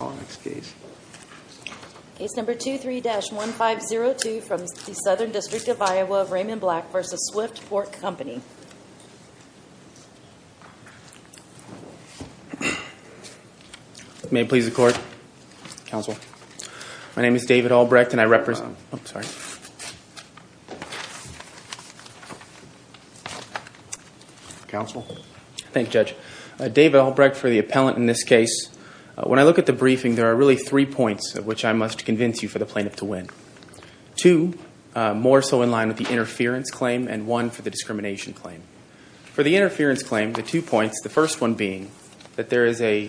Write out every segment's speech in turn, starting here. Case number 23-1502 from the Southern District of Iowa, Raymond Black v. Swift Pork Company. May it please the court. Counsel. My name is David Albrecht and I represent... Counsel. Thank you Judge. David Albrecht for the appellant in this case. When I look at the briefing, there are really three points which I must convince you for the plaintiff to win. Two, more so in line with the interference claim and one for the discrimination claim. For the interference claim, the two points, the first one being that there is a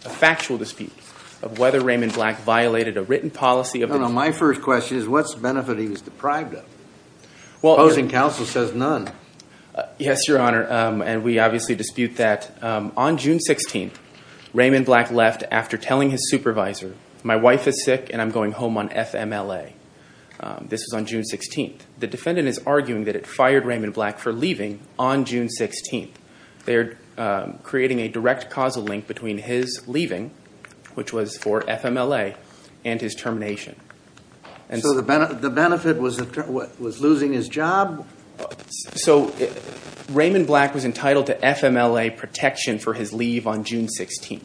factual dispute of whether Raymond Black violated a written policy... No, no, my first question is what's the benefit he was deprived of? Opposing counsel says none. Yes, your honor, and we obviously dispute that. On June 16th, Raymond Black left after telling his supervisor, my wife is sick and I'm going home on FMLA. This was on June 16th. The defendant is arguing that it fired Raymond Black for leaving on June 16th. They're creating a direct causal link between his leaving, which was for FMLA, and his termination. So the benefit was losing his job? So Raymond Black was entitled to FMLA protection for his leave on June 16th.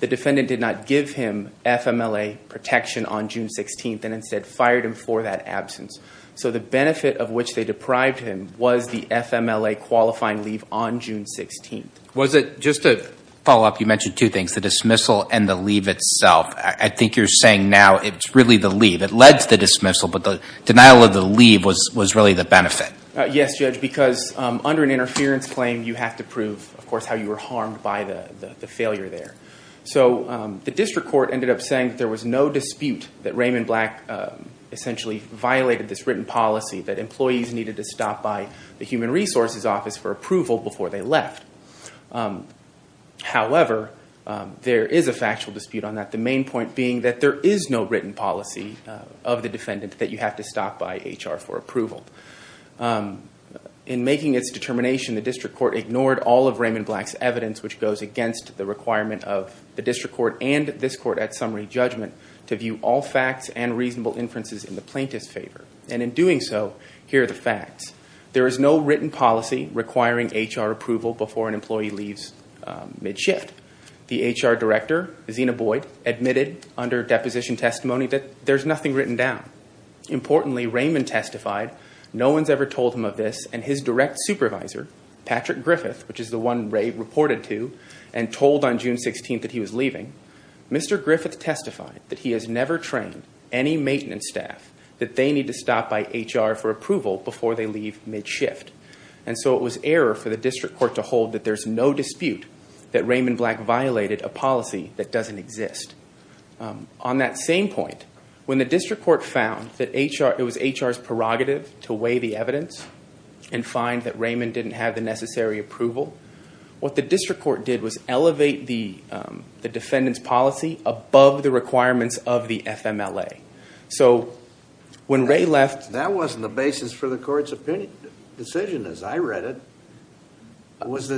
The defendant did not give him FMLA protection on June 16th and instead fired him for that absence. So the benefit of which they deprived him was the FMLA qualifying leave on June 16th. Was it, just to follow up, you mentioned two things, the dismissal and the leave itself. I think you're saying now it's really the leave. It led to the dismissal, but the denial of the leave was really the benefit. Yes, Judge, because under an interference claim, you have to prove, of course, how you were harmed by the failure there. So the district court ended up saying that there was no dispute that Raymond Black essentially violated this written policy, that employees needed to stop by the Human Resources Office for approval before they left. However, there is a factual dispute on that, the main point being that there is no written policy of the defendant that you have to stop by HR for approval. In making its determination, the district court ignored all of Raymond Black's evidence, which goes against the requirement of the district court and this court at summary judgment to view all facts and reasonable inferences in the plaintiff's favor. And in doing so, here are the facts. There is no written policy requiring HR approval before an employee leaves mid-shift. The HR director, Zina Boyd, admitted under deposition testimony that there's nothing written down. Importantly, Raymond testified, no one's ever told him of this, and his direct supervisor, Patrick Griffith, which is the one Ray reported to and told on June 16th that he was leaving, Mr. Griffith testified that he has never trained any maintenance staff that they need to stop by HR for approval before they leave mid-shift. And so it was error for the district court to hold that there's no dispute that Raymond Black violated a policy that doesn't exist. On that same point, when the district court found that it was HR's prerogative to weigh the evidence and find that Raymond didn't have the necessary approval, what the district court did was elevate the defendant's policy above the requirements of the FMLA. So when Ray left... That wasn't the basis for the court's decision as I read it. It was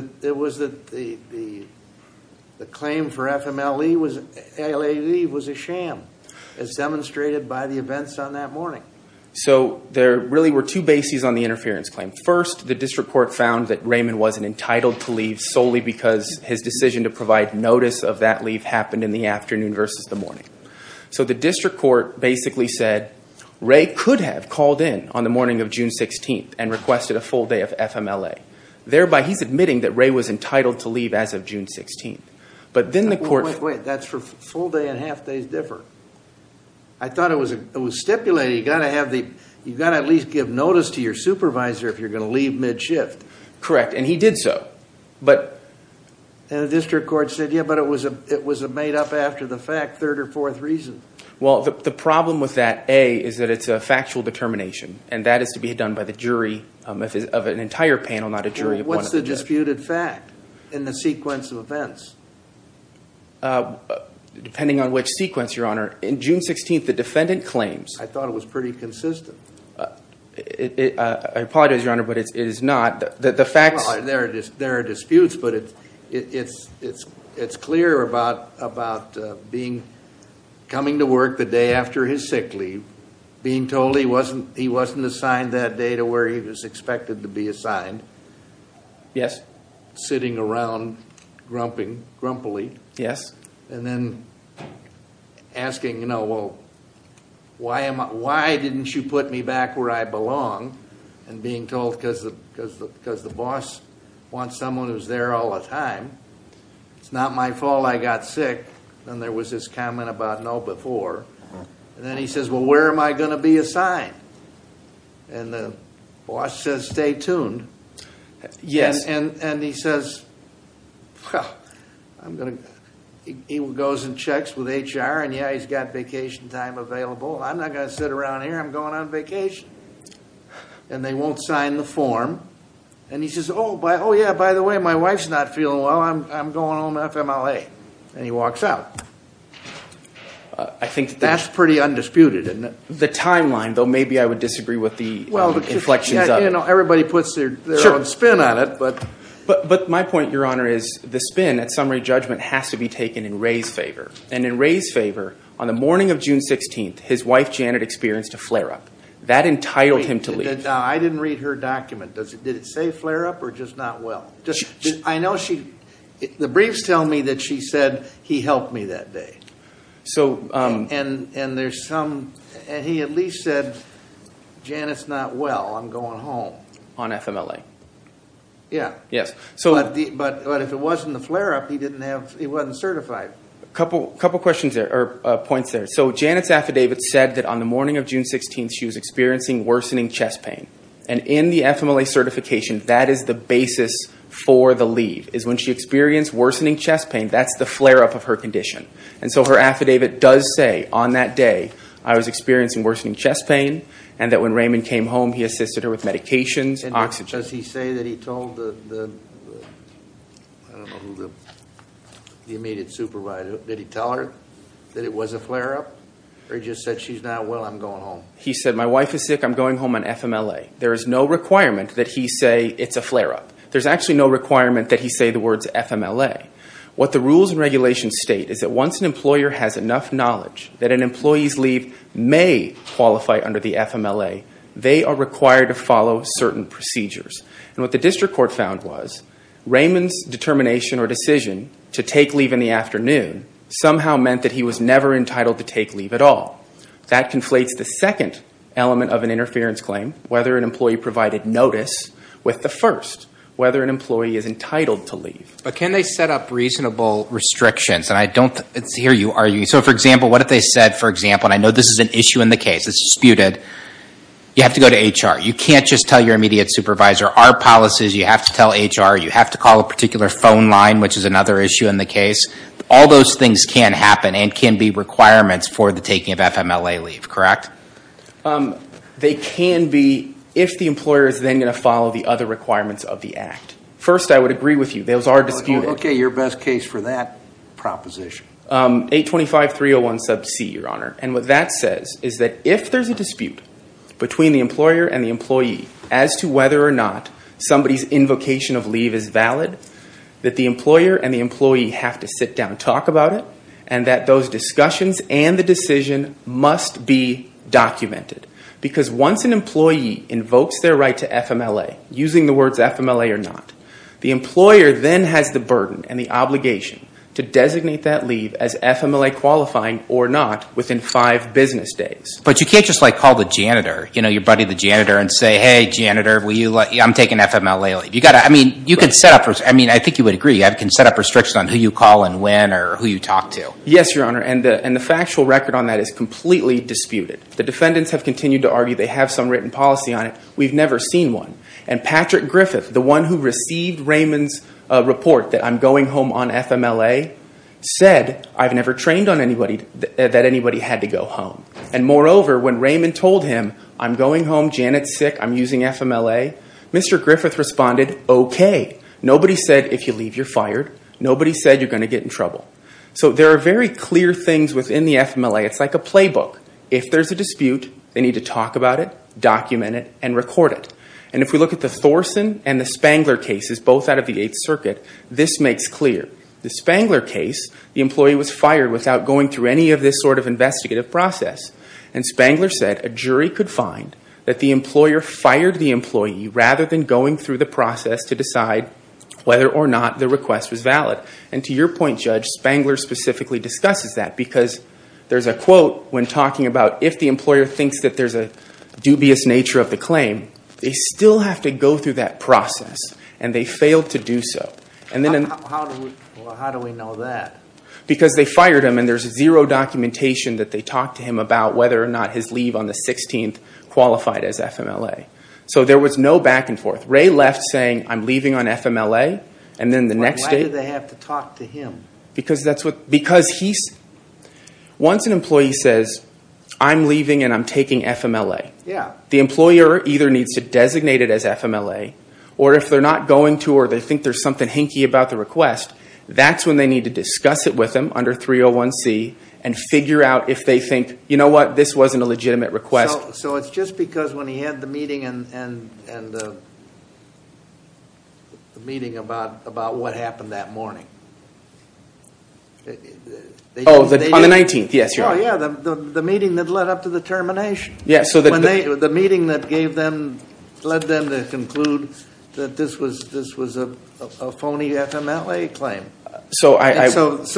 that the claim for FMLA leave was a sham, as demonstrated by the events on that morning. So there really were two bases on the interference claim. First, the district court found that Raymond wasn't entitled to leave solely because his decision to provide notice of that leave happened in the afternoon versus the morning. So the district court basically said Ray could have called in on the morning of June 16th and requested a full day of FMLA. Thereby, he's admitting that Ray was entitled to leave as of June 16th. But then the court... Wait, that's where full day and half days differ. I thought it was stipulated you've got to at least give notice to your supervisor if you're going to leave mid-shift. Correct, and he did so. And the district court said, yeah, but it was made up after the fact, third or fourth reason. Well, the problem with that, A, is that it's a factual determination, and that is to be done by the jury of an entire panel, not a jury of one. What's the disputed fact in the sequence of events? Depending on which sequence, Your Honor. In June 16th, the defendant claims... I thought it was pretty consistent. I apologize, Your Honor, but it is not. There are disputes, but it's clear about coming to work the day after his sick leave, being told he wasn't assigned that day to where he was expected to be assigned. Yes. Sitting around grumpily. Yes. And then asking, you know, well, why didn't you put me back where I belong? And being told, because the boss wants someone who's there all the time, it's not my fault I got sick. And there was this comment about no before. And then he says, well, where am I going to be assigned? And the boss says, stay tuned. Yes. And he says, well, he goes and checks with HR, and, yeah, he's got vacation time available. I'm not going to sit around here. I'm going on vacation. And they won't sign the form. And he says, oh, yeah, by the way, my wife's not feeling well. I'm going home FMLA. And he walks out. I think that's pretty undisputed. The timeline, though, maybe I would disagree with the inflections of it. Well, everybody puts their own spin on it. But my point, Your Honor, is the spin at summary judgment has to be taken in Ray's favor. And in Ray's favor, on the morning of June 16th, his wife, Janet, experienced a flare-up. That entitled him to leave. Now, I didn't read her document. Did it say flare-up or just not well? I know the briefs tell me that she said he helped me that day. And he at least said, Janet's not well. I'm going home. On FMLA. Yeah. Yes. But if it wasn't the flare-up, he wasn't certified. A couple points there. So Janet's affidavit said that on the morning of June 16th, she was experiencing worsening chest pain. And in the FMLA certification, that is the basis for the leave, is when she experienced worsening chest pain. That's the flare-up of her condition. And so her affidavit does say, on that day, I was experiencing worsening chest pain. And that when Raymond came home, he assisted her with medications, oxygen. And does he say that he told the immediate supervisor, did he tell her that it was a flare-up? Or he just said, she's not well. I'm going home. He said, my wife is sick. I'm going home on FMLA. There is no requirement that he say it's a flare-up. There's actually no requirement that he say the words FMLA. What the rules and regulations state is that once an employer has enough knowledge that an employee's leave may qualify under the FMLA, they are required to follow certain procedures. And what the district court found was Raymond's determination or decision to take leave in the afternoon somehow meant that he was never entitled to take leave at all. That conflates the second element of an interference claim, whether an employee provided notice, But can they set up reasonable restrictions? And I don't hear you arguing. So, for example, what if they said, for example, and I know this is an issue in the case. It's disputed. You have to go to HR. You can't just tell your immediate supervisor our policies. You have to tell HR. You have to call a particular phone line, which is another issue in the case. All those things can happen and can be requirements for the taking of FMLA leave, correct? They can be if the employer is then going to follow the other requirements of the act. First, I would agree with you. Those are disputed. Okay, your best case for that proposition. 825.301.C, Your Honor. And what that says is that if there's a dispute between the employer and the employee as to whether or not somebody's invocation of leave is valid, that the employer and the employee have to sit down and talk about it, and that those discussions and the decision must be documented. Because once an employee invokes their right to FMLA, using the words FMLA or not, the employer then has the burden and the obligation to designate that leave as FMLA qualifying or not within five business days. But you can't just, like, call the janitor, you know, your buddy the janitor, and say, Hey, janitor, I'm taking FMLA leave. You've got to, I mean, you can set up, I mean, I think you would agree, you can set up restrictions on who you call and when or who you talk to. Yes, Your Honor, and the factual record on that is completely disputed. The defendants have continued to argue they have some written policy on it. We've never seen one. And Patrick Griffith, the one who received Raymond's report that I'm going home on FMLA, said I've never trained on anybody that anybody had to go home. And moreover, when Raymond told him, I'm going home, Janet's sick, I'm using FMLA, Mr. Griffith responded, Okay. Nobody said if you leave, you're fired. Nobody said you're going to get in trouble. So there are very clear things within the FMLA. It's like a playbook. If there's a dispute, they need to talk about it, document it, and record it. And if we look at the Thorson and the Spangler cases, both out of the Eighth Circuit, this makes clear. The Spangler case, the employee was fired without going through any of this sort of investigative process. And Spangler said a jury could find that the employer fired the employee rather than going through the process to decide whether or not the request was valid. And to your point, Judge, Spangler specifically discusses that because there's a quote when talking about if the employer thinks that there's a dubious nature of the claim, they still have to go through that process, and they failed to do so. How do we know that? Because they fired him, and there's zero documentation that they talked to him about whether or not his leave on the 16th qualified as FMLA. So there was no back and forth. Ray left saying, I'm leaving on FMLA, and then the next day... Why did they have to talk to him? Because he's... Once an employee says, I'm leaving and I'm taking FMLA, the employer either needs to designate it as FMLA, or if they're not going to or they think there's something hinky about the request, that's when they need to discuss it with him under 301C and figure out if they think, you know what, this wasn't a legitimate request. So it's just because when he had the meeting about what happened that morning. Oh, on the 19th, yes. Yeah, the meeting that led up to the termination. The meeting that led them to conclude that this was a phony FMLA claim. So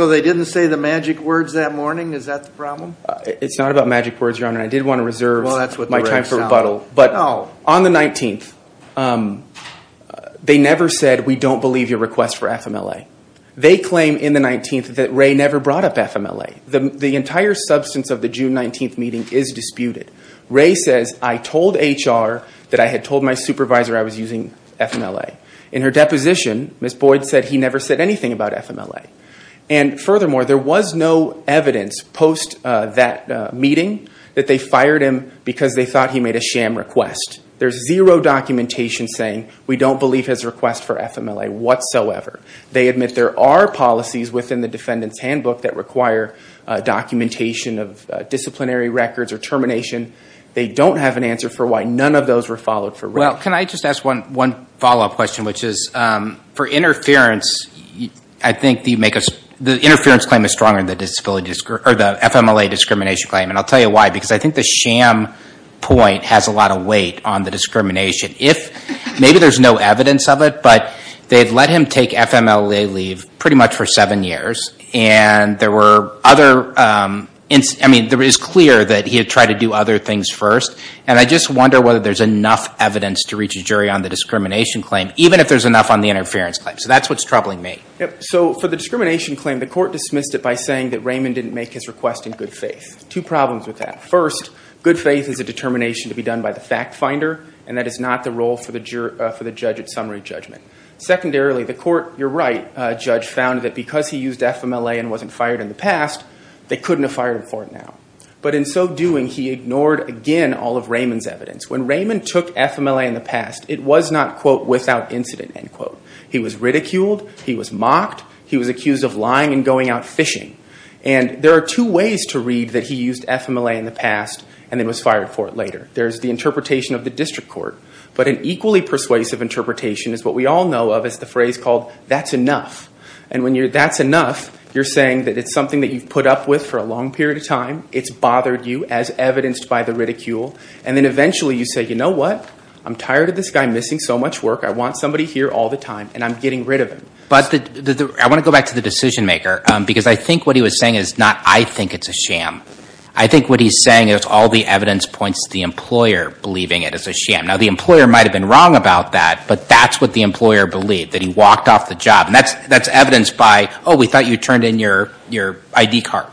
they didn't say the magic words that morning? Is that the problem? It's not about magic words, Your Honor. I did want to reserve my time for rebuttal. But on the 19th, they never said, we don't believe your request for FMLA. They claim in the 19th that Ray never brought up FMLA. The entire substance of the June 19th meeting is disputed. Ray says, I told HR that I had told my supervisor I was using FMLA. In her deposition, Ms. Boyd said he never said anything about FMLA. And furthermore, there was no evidence post that meeting that they fired him because they thought he made a sham request. There's zero documentation saying we don't believe his request for FMLA whatsoever. They admit there are policies within the defendant's handbook that require documentation of disciplinary records or termination. They don't have an answer for why none of those were followed for Ray. Well, can I just ask one follow-up question, which is for interference, I think the interference claim is stronger than the FMLA discrimination claim. And I'll tell you why, because I think the sham point has a lot of weight on the discrimination. Maybe there's no evidence of it, but they had let him take FMLA leave pretty much for seven years. And there were other, I mean, it was clear that he had tried to do other things first. And I just wonder whether there's enough evidence to reach a jury on the discrimination claim, even if there's enough on the interference claim. So that's what's troubling me. So for the discrimination claim, the court dismissed it by saying that Raymond didn't make his request in good faith. Two problems with that. First, good faith is a determination to be done by the fact finder, and that is not the role for the judge at summary judgment. Secondarily, the court, you're right, judge, found that because he used FMLA and wasn't fired in the past, they couldn't have fired him for it now. But in so doing, he ignored, again, all of Raymond's evidence. When Raymond took FMLA in the past, it was not, quote, without incident, end quote. He was ridiculed. He was mocked. He was accused of lying and going out fishing. And there are two ways to read that he used FMLA in the past and then was fired for it later. There's the interpretation of the district court. But an equally persuasive interpretation is what we all know of as the phrase called, that's enough. And when you're, that's enough, you're saying that it's something that you've put up with for a long period of time. It's bothered you, as evidenced by the ridicule. And then eventually you say, you know what? I'm tired of this guy missing so much work. I want somebody here all the time, and I'm getting rid of him. I want to go back to the decision maker, because I think what he was saying is not, I think it's a sham. I think what he's saying is all the evidence points to the employer believing it is a sham. Now, the employer might have been wrong about that, but that's what the employer believed, that he walked off the job. And that's evidence by, oh, we thought you turned in your ID card.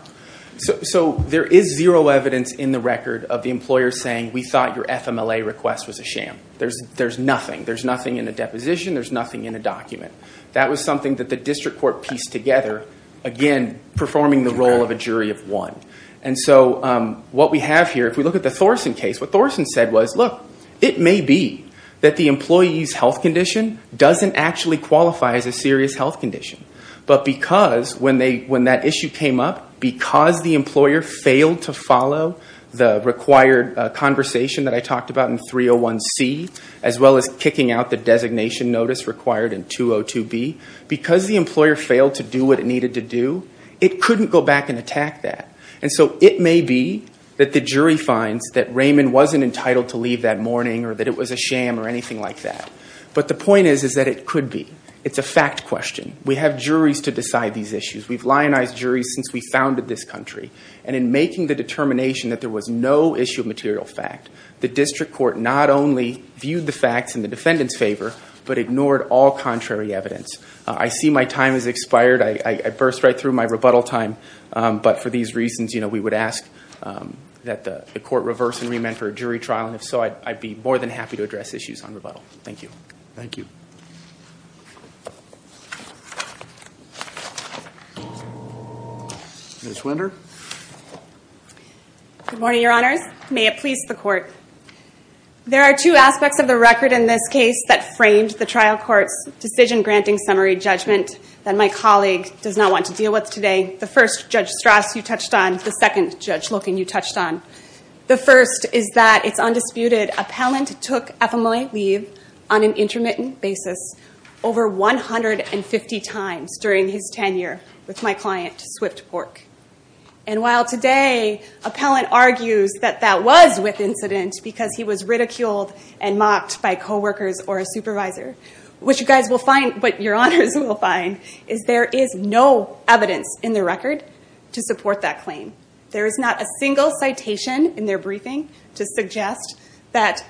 So there is zero evidence in the record of the employer saying, we thought your FMLA request was a sham. There's nothing. There's nothing in the deposition. There's nothing in the document. That was something that the district court pieced together, again, performing the role of a jury of one. And so what we have here, if we look at the Thorsen case, what Thorsen said was, look, it may be that the employee's health condition doesn't actually qualify as a serious health condition. But because when that issue came up, because the employer failed to follow the required conversation that I talked about in 301C, as well as kicking out the designation notice required in 202B, because the employer failed to do what it needed to do, it couldn't go back and attack that. And so it may be that the jury finds that Raymond wasn't entitled to leave that morning or that it was a sham or anything like that. But the point is, is that it could be. It's a fact question. We have juries to decide these issues. We've lionized juries since we founded this country. And in making the determination that there was no issue of material fact, the district court not only viewed the facts in the defendant's favor, but ignored all contrary evidence. I see my time has expired. I burst right through my rebuttal time. But for these reasons, we would ask that the court reverse and remand for a jury trial. And if so, I'd be more than happy to address issues on rebuttal. Thank you. Thank you. Ms. Winter. Good morning, Your Honors. May it please the court. There are two aspects of the record in this case that framed the trial court's decision-granting summary judgment that my colleague does not want to deal with today. The first, Judge Strass, you touched on. The second, Judge Loken, you touched on. The first is that it's undisputed. Appellant took FMLA leave on an intermittent basis over 150 times during his tenure with my client, Swift Pork. And while today, Appellant argues that that was with incident because he was ridiculed and mocked by coworkers or a supervisor, what you guys will find, what Your Honors will find, is there is no evidence in the record to support that claim. There is not a single citation in their briefing to suggest that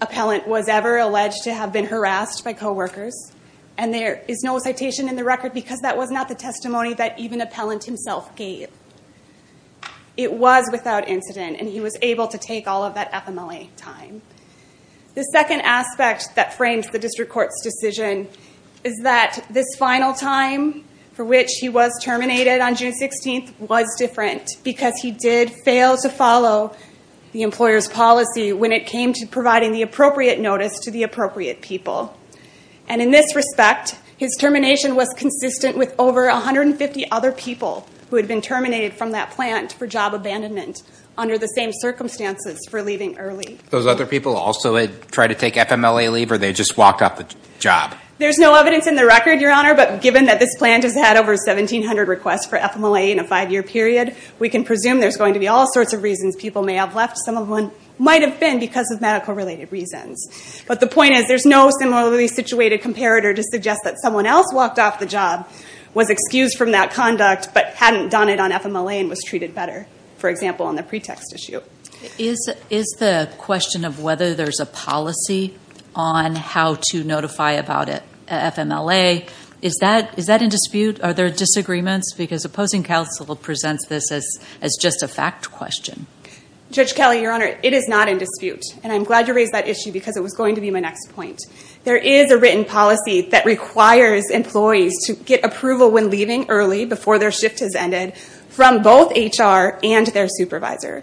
Appellant was ever alleged to have been harassed by coworkers. And there is no citation in the record because that was not the testimony that even Appellant himself gave. It was without incident, and he was able to take all of that FMLA time. The second aspect that frames the district court's decision is that this final time for which he was terminated on June 16th was different because he did fail to follow the employer's policy when it came to providing the appropriate notice to the appropriate people. And in this respect, his termination was consistent with over 150 other people who had been terminated from that plant for job abandonment under the same circumstances for leaving early. Those other people also had tried to take FMLA leave, or they just walked off the job? There's no evidence in the record, Your Honor, but given that this plant has had over 1,700 requests for FMLA in a five-year period, we can presume there's going to be all sorts of reasons people may have left. Some of them might have been because of medical-related reasons. But the point is, there's no similarly situated comparator to suggest that someone else walked off the job, was excused from that conduct, but hadn't done it on FMLA and was treated better, for example, on the pretext issue. Is the question of whether there's a policy on how to notify about FMLA, is that in dispute? Are there disagreements? Because opposing counsel presents this as just a fact question. Judge Kelly, Your Honor, it is not in dispute. And I'm glad you raised that issue because it was going to be my next point. There is a written policy that requires employees to get approval when leaving early, before their shift has ended, from both HR and their supervisor.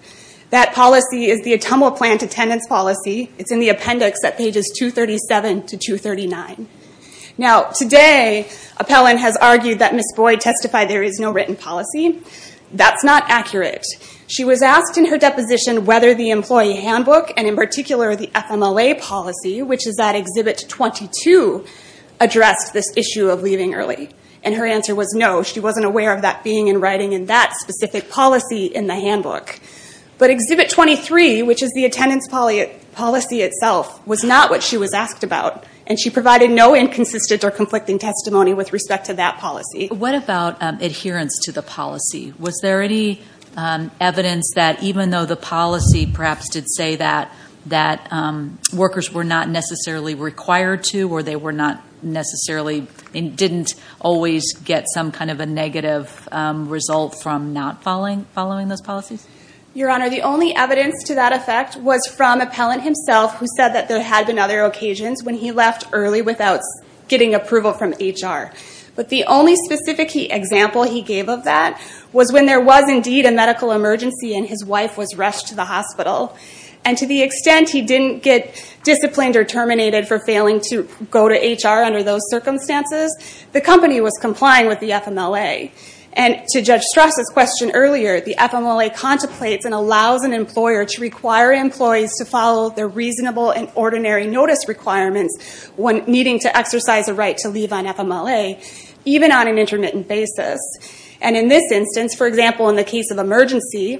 That policy is the Atomel Plant Attendance Policy. It's in the appendix at pages 237 to 239. Now, today, Appellant has argued that Ms. Boyd testified there is no written policy. That's not accurate. She was asked in her deposition whether the employee handbook and, in particular, the FMLA policy, which is at Exhibit 22, addressed this issue of leaving early. And her answer was no. She wasn't aware of that being in writing in that specific policy in the handbook. But Exhibit 23, which is the attendance policy itself, was not what she was asked about, and she provided no inconsistent or conflicting testimony with respect to that policy. What about adherence to the policy? Was there any evidence that even though the policy perhaps did say that workers were not necessarily required to or they were not necessarily and didn't always get some kind of a negative result from not following those policies? Your Honor, the only evidence to that effect was from Appellant himself, who said that there had been other occasions when he left early without getting approval from HR. But the only specific example he gave of that was when there was indeed a medical emergency and his wife was rushed to the hospital. And to the extent he didn't get disciplined or terminated for failing to go to HR under those circumstances, the company was complying with the FMLA. And to Judge Strass' question earlier, the FMLA contemplates and allows an employer to require employees to follow their reasonable and ordinary notice requirements when needing to exercise a right to leave on FMLA, even on an intermittent basis. And in this instance, for example, in the case of emergency,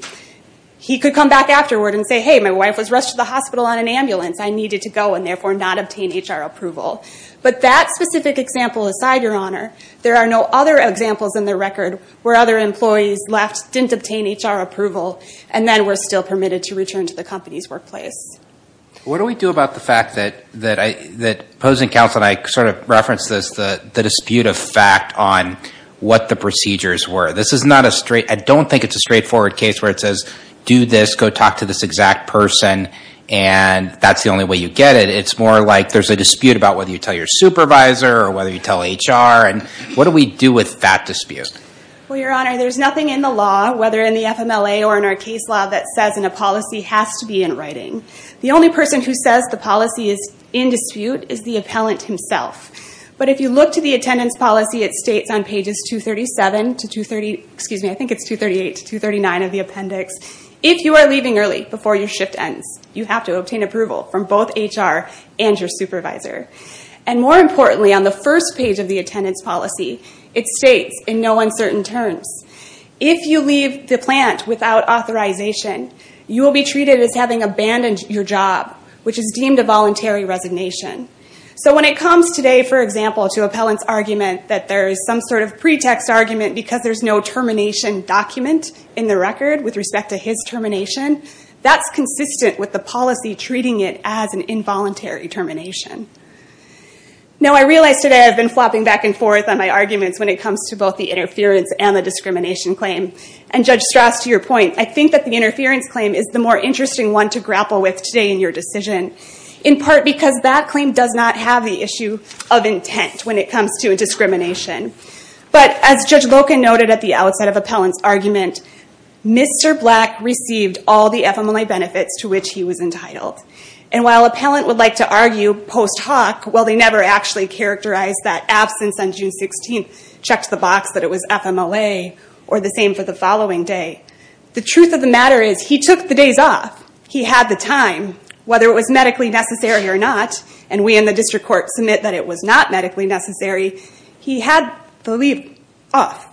he could come back afterward and say, hey, my wife was rushed to the hospital on an ambulance. I needed to go and therefore not obtain HR approval. But that specific example aside, Your Honor, there are no other examples in the record where other employees left, didn't obtain HR approval, and then were still permitted to return to the company's workplace. What do we do about the fact that opposing counsel and I sort of referenced this, the dispute of fact on what the procedures were? This is not a straight – I don't think it's a straightforward case where it says, do this, go talk to this exact person, and that's the only way you get it. It's more like there's a dispute about whether you tell your supervisor or whether you tell HR. And what do we do with that dispute? Well, Your Honor, there's nothing in the law, whether in the FMLA or in our case law, that says in a policy has to be in writing. The only person who says the policy is in dispute is the appellant himself. But if you look to the attendance policy, it states on pages 237 to 230 – excuse me, I think it's 238 to 239 of the appendix, if you are leaving early before your shift ends, you have to obtain approval from both HR and your supervisor. And more importantly, on the first page of the attendance policy, it states in no uncertain terms, if you leave the plant without authorization, you will be treated as having abandoned your job, which is deemed a voluntary resignation. So when it comes today, for example, to appellant's argument that there is some sort of pretext argument because there's no termination document in the record with respect to his termination, that's consistent with the policy treating it as an involuntary termination. Now, I realize today I've been flopping back and forth on my arguments when it comes to both the interference and the discrimination claim. And Judge Strauss, to your point, I think that the interference claim is the more interesting one to grapple with today in your decision, in part because that claim does not have the issue of intent when it comes to discrimination. But as Judge Loken noted at the outset of appellant's argument, Mr. Black received all the FMLA benefits to which he was entitled. And while appellant would like to argue post hoc, well, they never actually characterized that absence on June 16th, checked the box that it was FMLA, or the same for the following day. The truth of the matter is he took the days off. He had the time, whether it was medically necessary or not, and we in the district court submit that it was not medically necessary. He had the leave off.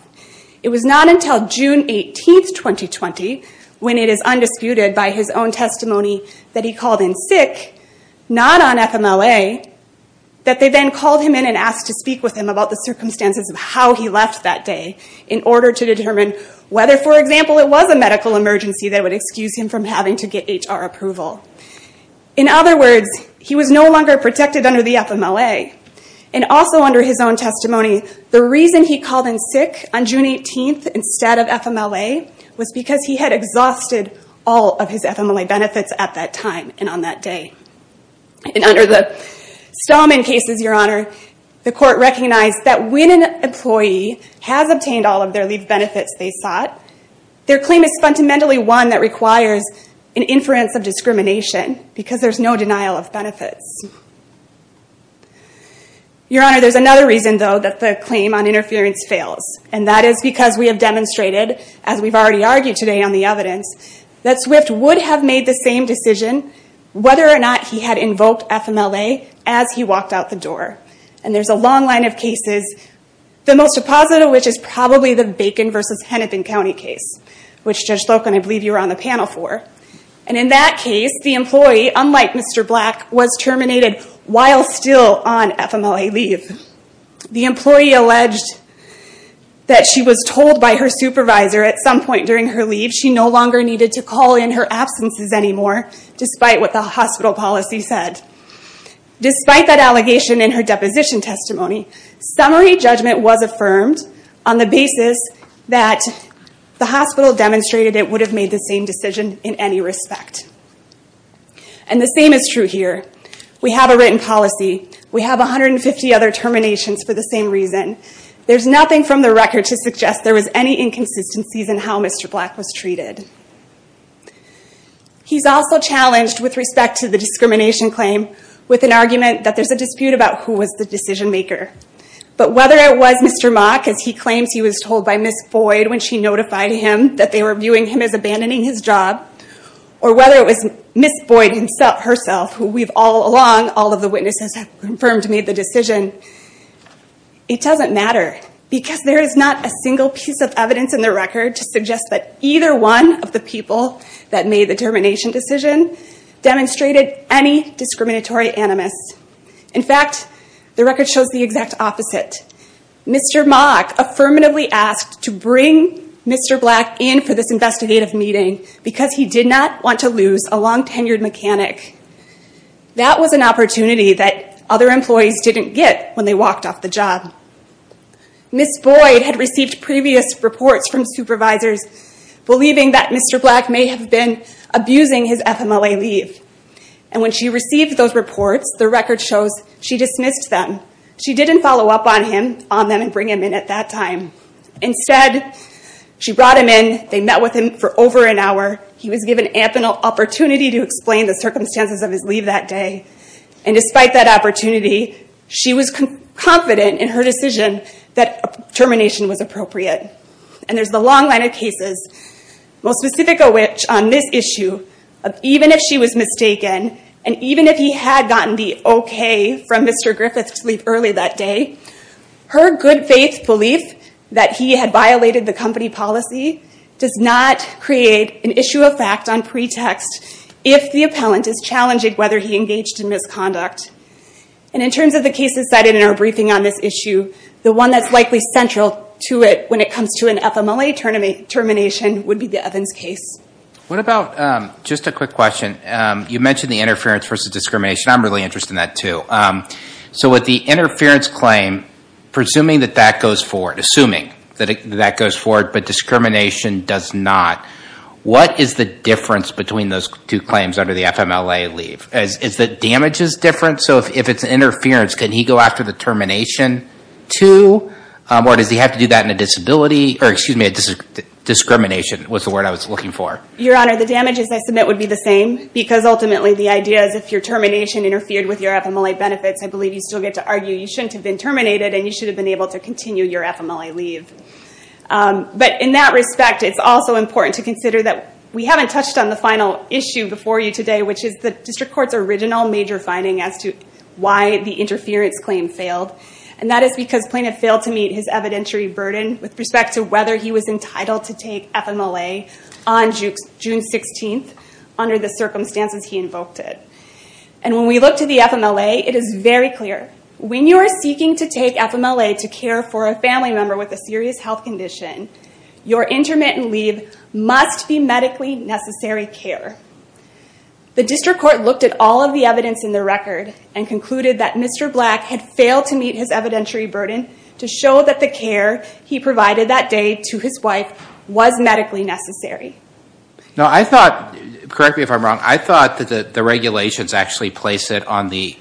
It was not until June 18th, 2020, when it is undisputed by his own testimony that he called in sick, not on FMLA, that they then called him in and asked to speak with him about the circumstances of how he left that day in order to determine whether, for example, it was a medical emergency that would excuse him from having to get HR approval. In other words, he was no longer protected under the FMLA. And also under his own testimony, the reason he called in sick on June 18th instead of FMLA was because he had exhausted all of his FMLA benefits at that time and on that day. And under the Stallman cases, Your Honor, the court recognized that when an employee has obtained all of their leave benefits they sought, their claim is fundamentally one that requires an inference of discrimination because there's no denial of benefits. Your Honor, there's another reason, though, that the claim on interference fails, and that is because we have demonstrated, as we've already argued today on the evidence, that Swift would have made the same decision whether or not he had invoked FMLA as he walked out the door. And there's a long line of cases, the most positive of which is probably the Bacon v. Hennepin County case, which, Judge Slocum, I believe you were on the panel for. And in that case, the employee, unlike Mr. Black, was terminated while still on FMLA leave. The employee alleged that she was told by her supervisor at some point during her leave she no longer needed to call in her absences anymore, despite what the hospital policy said. Despite that allegation in her deposition testimony, summary judgment was affirmed on the basis that the hospital demonstrated it would have made the same decision in any respect. And the same is true here. We have a written policy. We have 150 other terminations for the same reason. There's nothing from the record to suggest there was any inconsistencies in how Mr. Black was treated. He's also challenged, with respect to the discrimination claim, with an argument that there's a dispute about who was the decision maker. But whether it was Mr. Mock, as he claims he was told by Ms. Boyd when she notified him that they were viewing him as abandoning his job, or whether it was Ms. Boyd herself, who we've all along, all of the witnesses have confirmed, made the decision, it doesn't matter, because there is not a single piece of evidence in the record to suggest that either one of the people that made the termination decision demonstrated any discriminatory animus. In fact, the record shows the exact opposite. Mr. Mock affirmatively asked to bring Mr. Black in for this investigative meeting because he did not want to lose a long-tenured mechanic. That was an opportunity that other employees didn't get when they walked off the job. Ms. Boyd had received previous reports from supervisors believing that Mr. Black may have been abusing his FMLA leave. And when she received those reports, the record shows she dismissed them. She didn't follow up on them and bring him in at that time. Instead, she brought him in, they met with him for over an hour. He was given ample opportunity to explain the circumstances of his leave that day. And despite that opportunity, she was confident in her decision that termination was appropriate. And there's the long line of cases, most specific of which on this issue, even if she was mistaken, and even if he had gotten the okay from Mr. Griffith's leave early that day, her good faith belief that he had violated the company policy does not create an issue of fact on pretext if the appellant is challenging whether he engaged in misconduct. And in terms of the cases cited in our briefing on this issue, the one that's likely central to it when it comes to an FMLA termination would be the Evans case. What about, just a quick question, you mentioned the interference versus discrimination. I'm really interested in that too. So with the interference claim, presuming that that goes forward, assuming that that goes forward, but discrimination does not, what is the difference between those two claims under the FMLA leave? Is the damages different? So if it's interference, can he go after the termination too? Or does he have to do that in a disability, or excuse me, a discrimination, was the word I was looking for. Your Honor, the damages I submit would be the same, because ultimately the idea is if your termination interfered with your FMLA benefits, I believe you still get to argue you shouldn't have been terminated and you should have been able to continue your FMLA leave. But in that respect, it's also important to consider that we haven't touched on the final issue before you today, which is the District Court's original major finding as to why the interference claim failed. And that is because Plaintiff failed to meet his evidentiary burden with respect to whether he was entitled to take FMLA on June 16th under the circumstances he invoked it. And when we look to the FMLA, it is very clear. When you are seeking to take FMLA to care for a family member with a serious health condition, your intermittent leave must be medically necessary care. The District Court looked at all of the evidence in the record and concluded that Mr. Black had failed to meet his evidentiary burden to show that the care he provided that day to his wife was medically necessary. Now I thought, correct me if I'm wrong, I thought that the regulations actually place it on the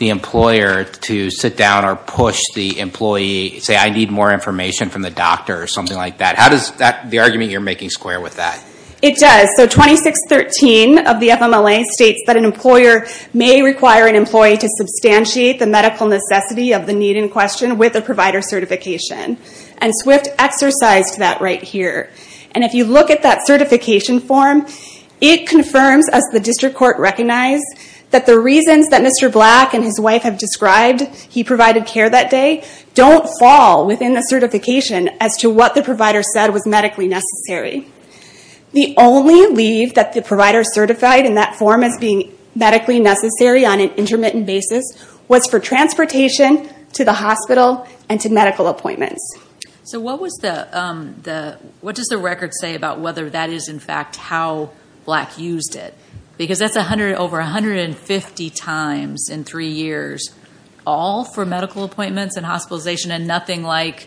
employer to sit down or push the employee, say I need more information from the doctor or something like that. How does the argument you're making square with that? It does. So 2613 of the FMLA states that an employer may require an employee to substantiate the medical necessity of the need in question with a provider certification. And SWIFT exercised that right here. And if you look at that certification form, it confirms as the District Court recognized that the reasons that Mr. Black and his wife have described, he provided care that day, don't fall within the certification as to what the provider said was medically necessary. The only leave that the provider certified in that form as being medically necessary on an intermittent basis was for transportation to the hospital and to medical appointments. So what does the record say about whether that is in fact how Black used it? Because that's over 150 times in three years all for medical appointments and hospitalization and nothing like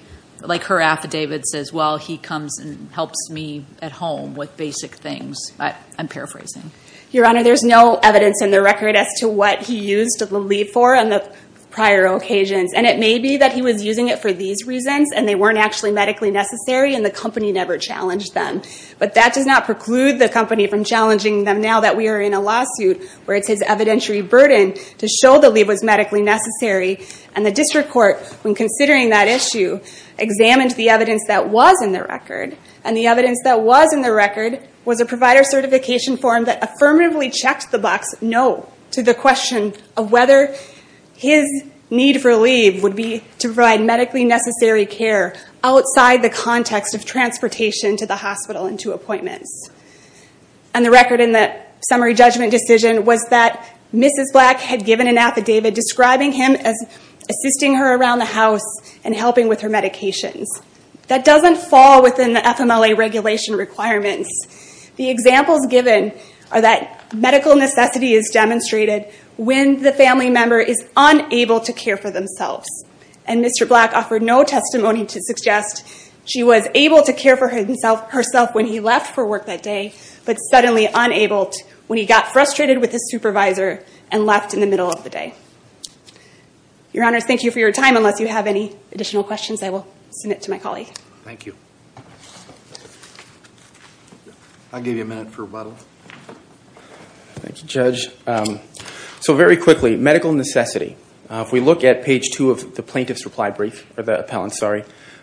her affidavit says, well, he comes and helps me at home with basic things. I'm paraphrasing. Your Honor, there's no evidence in the record as to what he used the leave for on the prior occasions. And it may be that he was using it for these reasons and they weren't actually medically necessary and the company never challenged them. But that does not preclude the company from challenging them now that we are in a lawsuit where it's his evidentiary burden to show the leave was medically necessary and the district court when considering that issue examined the evidence that was in the record and the evidence that was in the record was a provider certification form that affirmatively checked the Black's no to the question of whether his need for leave would be to provide medically necessary care outside the hospital and to appointments. And the record in the summary judgment decision was that Mrs. Black had given an affidavit describing him as assisting her around the house and helping with her medications. That doesn't fall within the FMLA regulation requirements. The examples given are that medical necessity is demonstrated when the family member is unable to care for themselves. And Mr. Black offered no testimony to suggest she was able to care for herself when he left for work that day but suddenly unable when he got frustrated with his supervisor and left in the middle of the day. Your Honor, thank you for your time unless you have any additional questions I will submit to my colleague. Thank you. I'll give you a minute for rebuttal. Thank you Judge. So very quickly medical necessity. If we look at page two of the plaintiff's reply brief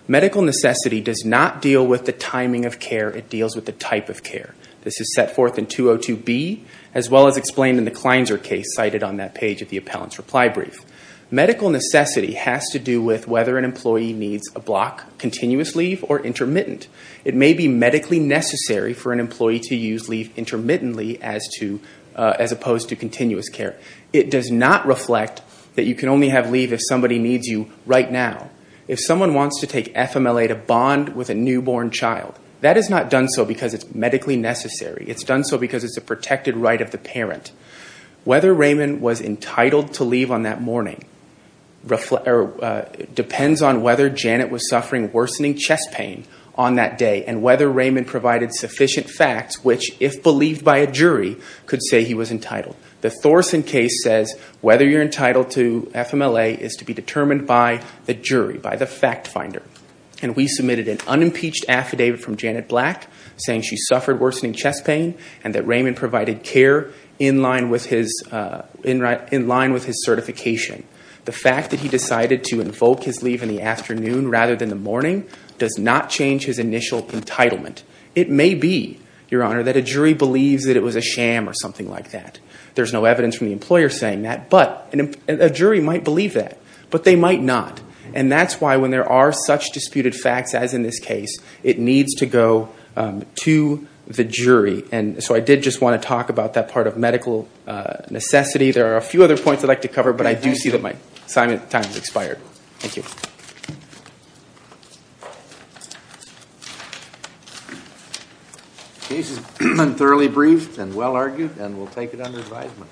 medical necessity does not deal with the timing of care. It deals with the type of care. This is set forth in 202B as well as explained in the Kleinzer case cited on that page of the appellant's reply brief. Medical necessity has to do with whether an employee needs a block, continuous leave, or intermittent. It may be medically necessary for an employee to use leave intermittently as opposed to continuous care. It does not reflect that you can only have leave if somebody needs you right now. If someone wants to take FMLA to bond with a newborn child that is not done so because it's medically necessary. It's done so because it's a protected right of the parent. Whether Raymond was entitled to leave on that morning depends on whether Janet was suffering worsening chest pain on that day and whether Raymond provided sufficient facts which, if believed by a jury, could say he was entitled. The Thorson case says whether you're entitled to FMLA is to be determined by the jury, by the fact finder. We submitted an unimpeached affidavit from Janet Black saying she suffered worsening chest pain and that Raymond provided care in line with his certification. The fact that he decided to invoke his leave in the afternoon rather than the morning does not change his initial entitlement. It may be, Your Honor, that a jury believes that it was a sham or something like that. There's no evidence from the employer saying that, but a jury might believe that. But they might not. That's why when there are such disputed facts as in this case, it needs to go to the jury. I did just want to talk about that part of medical necessity. There are a few other points I'd like to cover, but I do see that my time has expired. Thank you. The case is thoroughly briefed and well argued, and we'll take it under advisement.